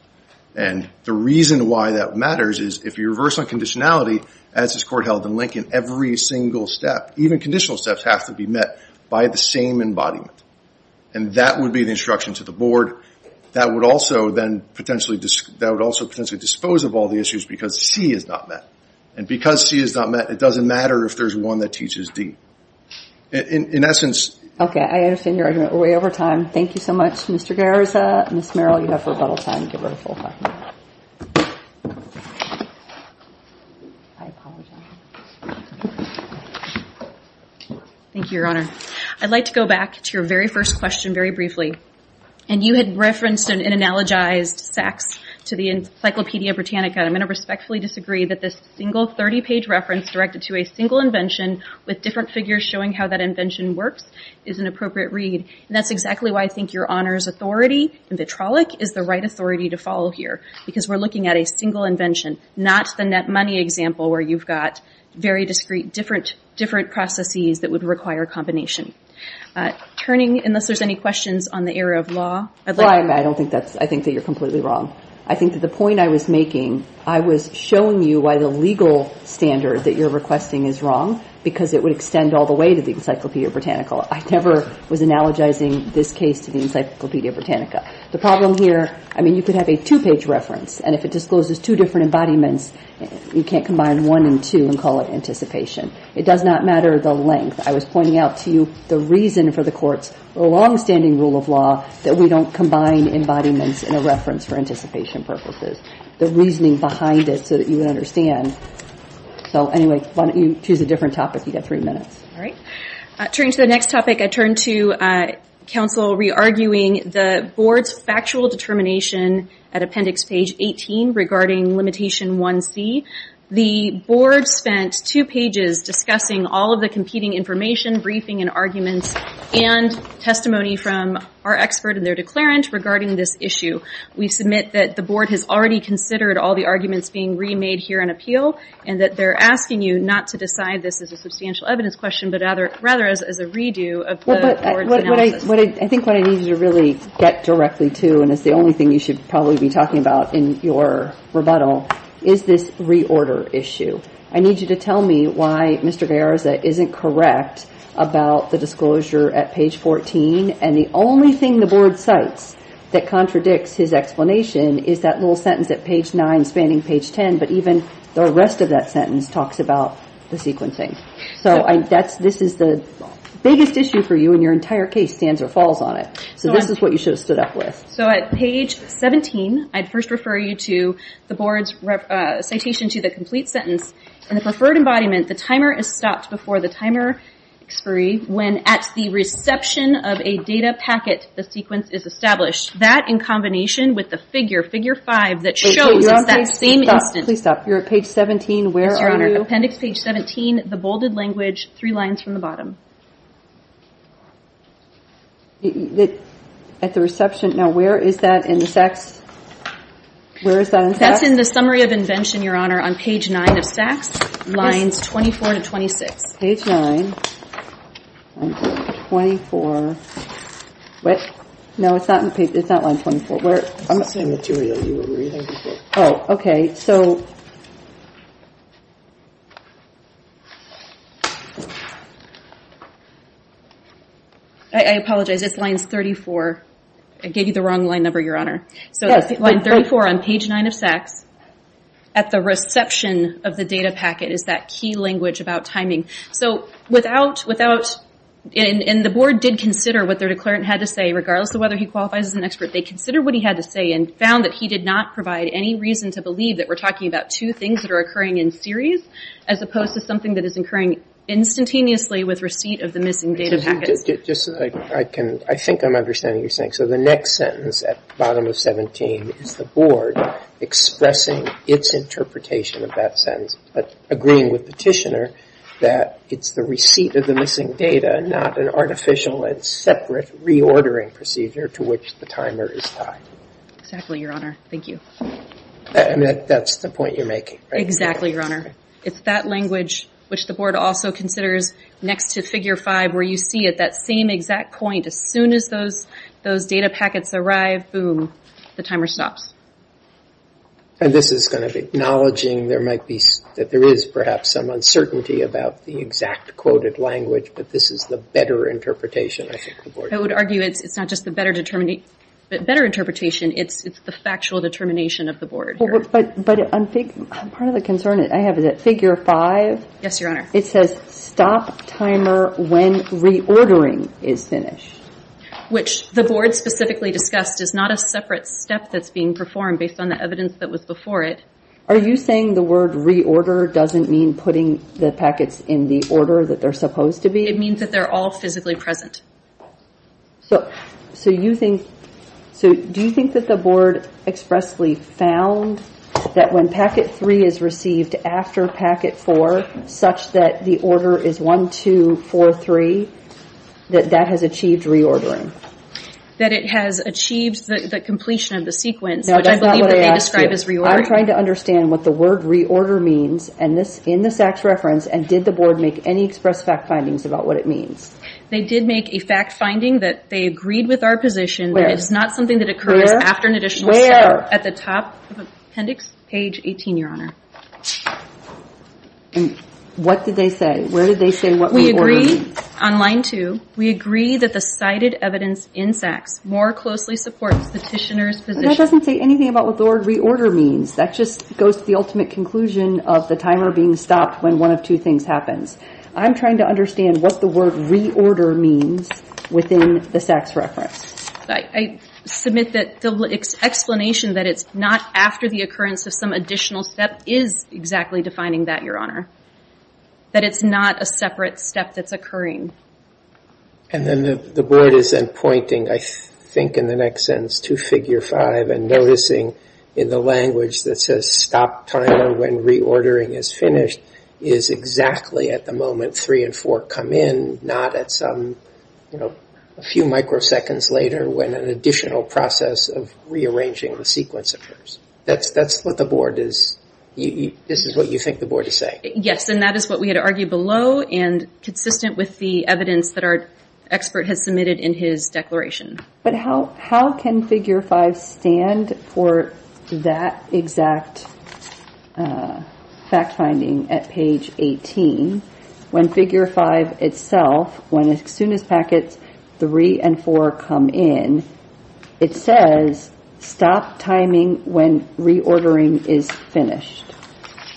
And the reason why that matters is if you reverse on conditionality, as this court held in Lincoln, every single step, even conditional steps, have to be met by the same embodiment. And that would be the instruction to the board. That would also then potentially dispose of all the issues because C is not met. And because C is not met, it doesn't matter if there's one that teaches D. In essence... Okay. I understand your argument way over time. Thank you so much, Mr. Garza. Ms. Merrill, you have rebuttal time. Give her the full time. Thank you, Your Honor. I'd like to go back to your very first question very briefly. And you had referenced and analogized Sachs to the Encyclopedia Britannica. I'm going to respectfully disagree that this single 30-page reference directed to a single invention with different figures showing how that invention works is an appropriate read. And that's exactly why I think Your Honor's authority in Vitrollic is the right authority to follow here. Because we're looking at a single invention, not the net money example where you've got very discrete different processes that would require a combination. Turning, unless there's any questions on the area of law, I'd like... I don't think that's... I think that you're completely wrong. I think that the point I was making, I was showing you why the legal standard that you're requesting is wrong, because it would extend all the way to the Encyclopedia Britannica. I never was analogizing this case to the Encyclopedia Britannica. The problem here, I mean, you could have a two-page reference, and if it discloses two different embodiments, you can't combine one and two and call it anticipation. It does not matter the length. I was pointing out to you the reason for the Court's long-standing rule of law that we don't combine embodiments in a reference for anticipation purposes. The reasoning behind it so that you understand. So, anyway, why don't you choose a different topic. You've got three minutes. All right. Turning to the next topic, I turn to counsel re-arguing the Board's factual determination at Appendix Page 18 regarding Limitation 1C. The Board spent two pages discussing all of the competing information, briefing, and arguments, and testimony from our expert and their declarant regarding this issue. We submit that the Board has already considered all the arguments being remade here in appeal, and that they're asking you not to decide this as a substantial evidence question, but rather as a redo of the Board's analysis. I think what I need you to really get directly to, and it's the only thing you should probably be talking about in your rebuttal, is this reorder issue. I need you to tell me why Mr. Garza isn't correct about the disclosure at Page 14, and the only thing the Board cites that contradicts his explanation is that little sentence at Page 9 spanning Page 10, but even the rest of that sentence talks about the sequencing. This is the biggest issue for you, and your entire case stands or falls on it. This is what you should have stood up with. At Page 17, I'd first refer you to the Board's citation to the complete sentence. In the preferred embodiment, the timer is stopped before the timer expiry when at the reception of a data packet, the sequence is established. That, in combination with the figure, Figure 5, that shows it's that same instance. Please stop. You're at Page 17. Where are you? Yes, Your Honor. Appendix Page 17, the bolded language, three lines from the bottom. At the reception. Now, where is that in the SACS? Where is that in SACS? That's in the Summary of Invention, Your Honor, on Page 9 of SACS, lines 24 to 26. Page 9, line 24. What? No, it's not line 24. It's the same material you were reading before. Oh, okay. I apologize. It's lines 34. I gave you the wrong line number, Your Honor. Yes. Line 34 on Page 9 of SACS, at the reception of the data packet, is that key language about timing. The Board did consider what their declarant had to say, regardless of whether he qualifies as an expert. They considered what he had to say and found that he did not provide any reason to believe that we're talking about two things that are occurring in series, as opposed to something that is occurring instantaneously with receipt of the missing data packets. Just so I can, I think I'm understanding what you're saying. So the next sentence at bottom of 17 is the Board expressing its interpretation of that sentence, but agreeing with Petitioner that it's the receipt of the missing data, not an artificial and separate reordering procedure to which the timer is tied. Exactly, Your Honor. Thank you. And that's the point you're making, right? Exactly, Your Honor. It's that language, which the Board also considers next to Figure 5, where you see at that same exact point, as soon as those data packets arrive, boom, the timer stops. And this is going to be acknowledging there might be, that there is perhaps some uncertainty about the exact quoted language, but this is the better interpretation, I think the better interpretation, it's the factual determination of the Board. But I'm thinking, part of the concern I have is that Figure 5. Yes, Your Honor. It says stop timer when reordering is finished. Which the Board specifically discussed is not a separate step that's being performed based on the evidence that was before it. Are you saying the word reorder doesn't mean putting the packets in the order that they're supposed to be? It means that they're all physically present. So, do you think that the Board expressly found that when packet 3 is received after packet 4, such that the order is 1, 2, 4, 3, that that has achieved reordering? That it has achieved the completion of the sequence, which I believe that they describe as reordering. I'm trying to understand what the word reorder means in the SACS reference, and did the Board make any express fact findings about what it means? They did make a fact finding that they agreed with our position that it's not something that occurs after an additional step at the top of appendix page 18, Your Honor. And what did they say? Where did they say what reorder means? We agree, on line 2, we agree that the cited evidence in SACS more closely supports petitioner's position. That doesn't say anything about what the word reorder means. That just goes to the ultimate conclusion of the timer being stopped when one of two things happens. I'm trying to understand what the word reorder means within the SACS reference. I submit that the explanation that it's not after the occurrence of some additional step is exactly defining that, Your Honor. That it's not a separate step that's occurring. And then the Board is then pointing, I think in the next sentence, to figure 5 and noticing in the language that says stop timer when reordering is finished is exactly at the moment 3 and 4 come in, not at some, you know, a few microseconds later when an additional process of rearranging the sequence occurs. That's what the Board is, this is what you think the Board is saying. Yes, and that is what we had argued below and consistent with the evidence that our expert has submitted in his declaration. But how can figure 5 stand for that exact fact finding at page 18 when figure 5 itself, when as soon as packets 3 and 4 come in, it says stop timing when reordering is finished.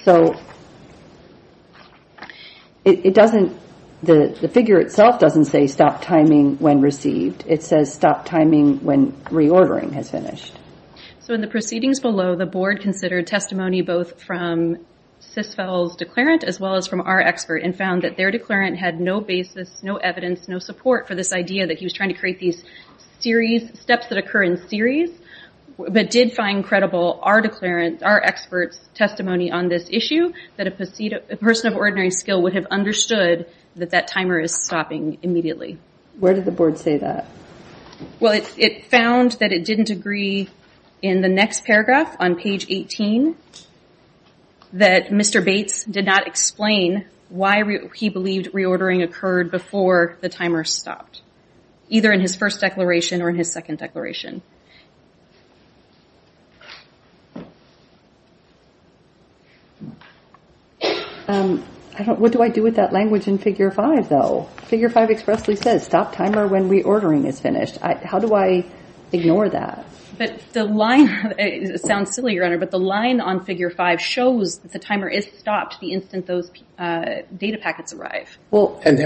So it doesn't, the figure itself doesn't say stop timing when received. It says stop timing when reordering is finished. So in the proceedings below, the Board considered testimony both from CISFEL's declarant as well as from our expert and found that their declarant had no basis, no evidence, no support for this idea that he was trying to create these steps that occur in series, but did find credible our declarant, our expert's testimony on this issue, that a person of ordinary skill would have understood that that timer is stopping immediately. Where did the Board say that? Well, it found that it didn't agree in the next paragraph on page 18 that Mr. Bates did not explain why he believed reordering occurred before the timer stopped, either in his first declaration or in his second declaration. What do I do with that language in figure 5 though? Figure 5 expressly says stop timer when reordering is finished. How do I ignore that? But the line, it sounds silly, Your Honor, but the line on figure 5 shows that the timer is stopped the instant those data packets arrive. Well, and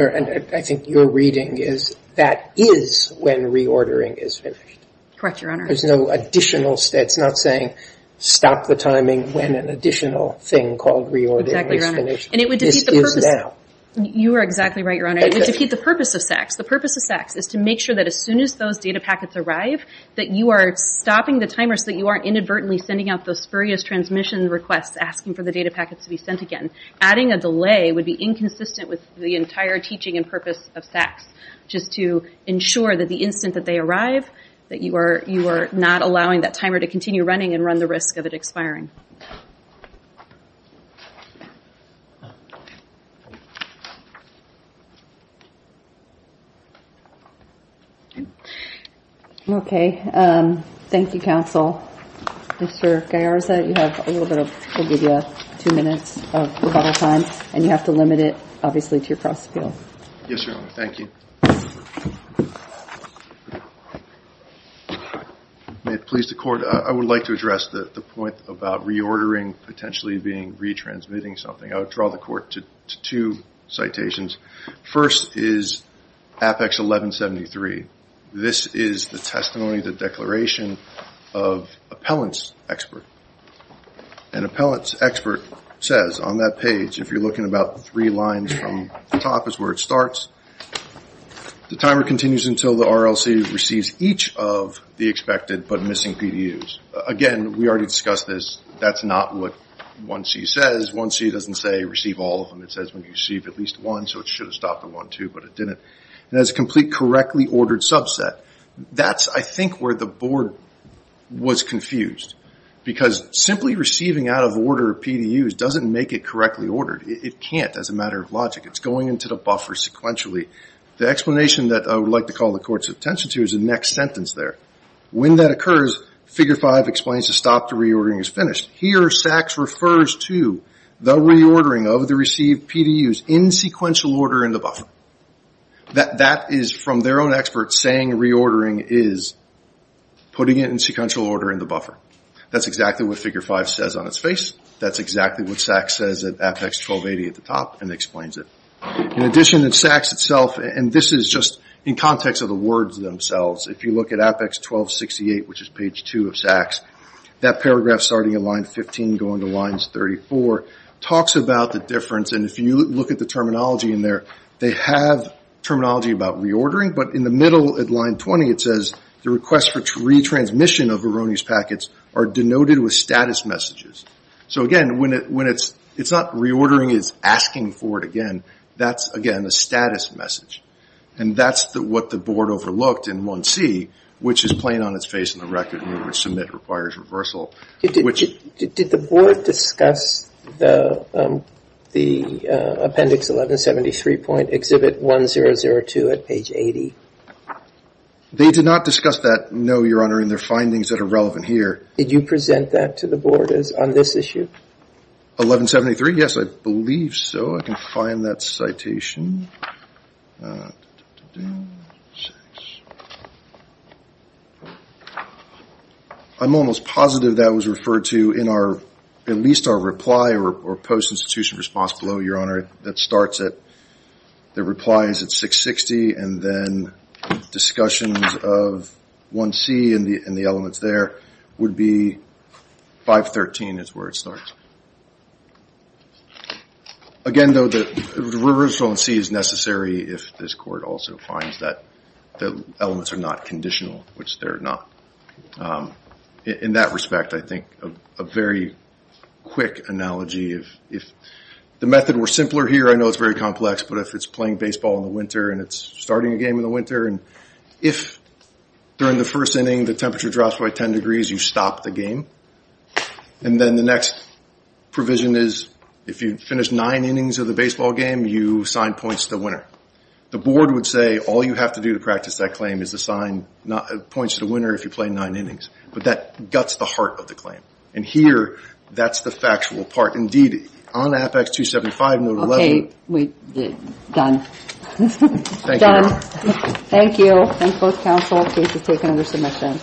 I think your reading is that is when reordering is finished. Correct, Your Honor. There's no additional, it's not saying stop the timing when an additional thing called reordering is finished. And it would defeat the purpose. This is now. You are exactly right, Your Honor. It would defeat the purpose of SACS. The purpose of SACS is to make sure that as soon as those data packets arrive, that you are stopping the timer so that you aren't inadvertently sending out those spurious transmission requests asking for the data packets to be sent again. Adding a delay would be inconsistent with the entire teaching and purpose of SACS, just to ensure that the instant that they arrive, that you are not allowing that timer to continue running and run the risk of it expiring. Okay. Thank you, counsel. Mr. Gallarza, you have a little bit of, we'll give you two minutes of rebuttal time, and you have to limit it, obviously, to your cross-appeal. Yes, Your Honor. Thank you. May it please the Court, I would like to address the point about reordering potentially being retransmitting something. I would draw the Court to two points. First is Apex 1173. This is the testimony, the declaration of appellant's expert. An appellant's expert says on that page, if you are looking about three lines from the top is where it starts, the timer continues until the RLC receives each of the expected but missing PDUs. Again, we already discussed this. That's not what 1C says. 1C doesn't say receive all of them. It says when you receive at least one, so it should have stopped at one too, but it didn't. It has a complete correctly ordered subset. That's, I think, where the Board was confused because simply receiving out of order PDUs doesn't make it correctly ordered. It can't as a matter of logic. It's going into the buffer sequentially. The explanation that I would like to call the Court's attention to is the next sentence there. When that occurs, figure five explains to stop the reordering is finished. Here, SACS refers to the reordering of the received PDUs in sequential order in the buffer. That is from their own expert saying reordering is putting it in sequential order in the buffer. That's exactly what figure five says on its face. That's exactly what SACS says at Apex 1280 at the top and explains it. In addition, SACS itself, and this is just in context of the words themselves, if you look at paragraph starting at line 15 going to lines 34, talks about the difference. If you look at the terminology in there, they have terminology about reordering, but in the middle at line 20 it says the request for retransmission of erroneous packets are denoted with status messages. Again, it's not reordering, it's asking for it again. That's, again, a status message. That's what the Board overlooked in 1C, which is plain on its face in the record. Submit requires reversal. Did the Board discuss the appendix 1173.exhibit 1002 at page 80? They did not discuss that, no, Your Honor, in their findings that are relevant here. Did you present that to the Board on this issue? 1173, yes, I believe so. I can find that citation. I'm almost positive that was referred to in our, at least our reply or post-institution response below, Your Honor, that starts at, that replies at 660 and then discussions of 1C and the elements there would be 513 is where it starts. Again, though, the reversal in C is necessary if this Court also finds that the elements are not conditional, which they're not. In that respect, I think a very quick analogy, if the method were simpler here, I know it's very complex, but if it's playing baseball in the winter and it's starting a game in the winter and if during the first inning the temperature drops by 10 degrees you stop the game and then the next provision is if you finish nine innings of the baseball game you sign points to the winner. The Board would say all you have to do to practice that claim is to sign points to the winner if you play nine innings. But that guts the heart of the claim. And here that's the factual part. Indeed, on Apex 275, note 11... Okay, done. Thank you, Your Honor. Thank you. Thank both counsel. Case is taken under submission.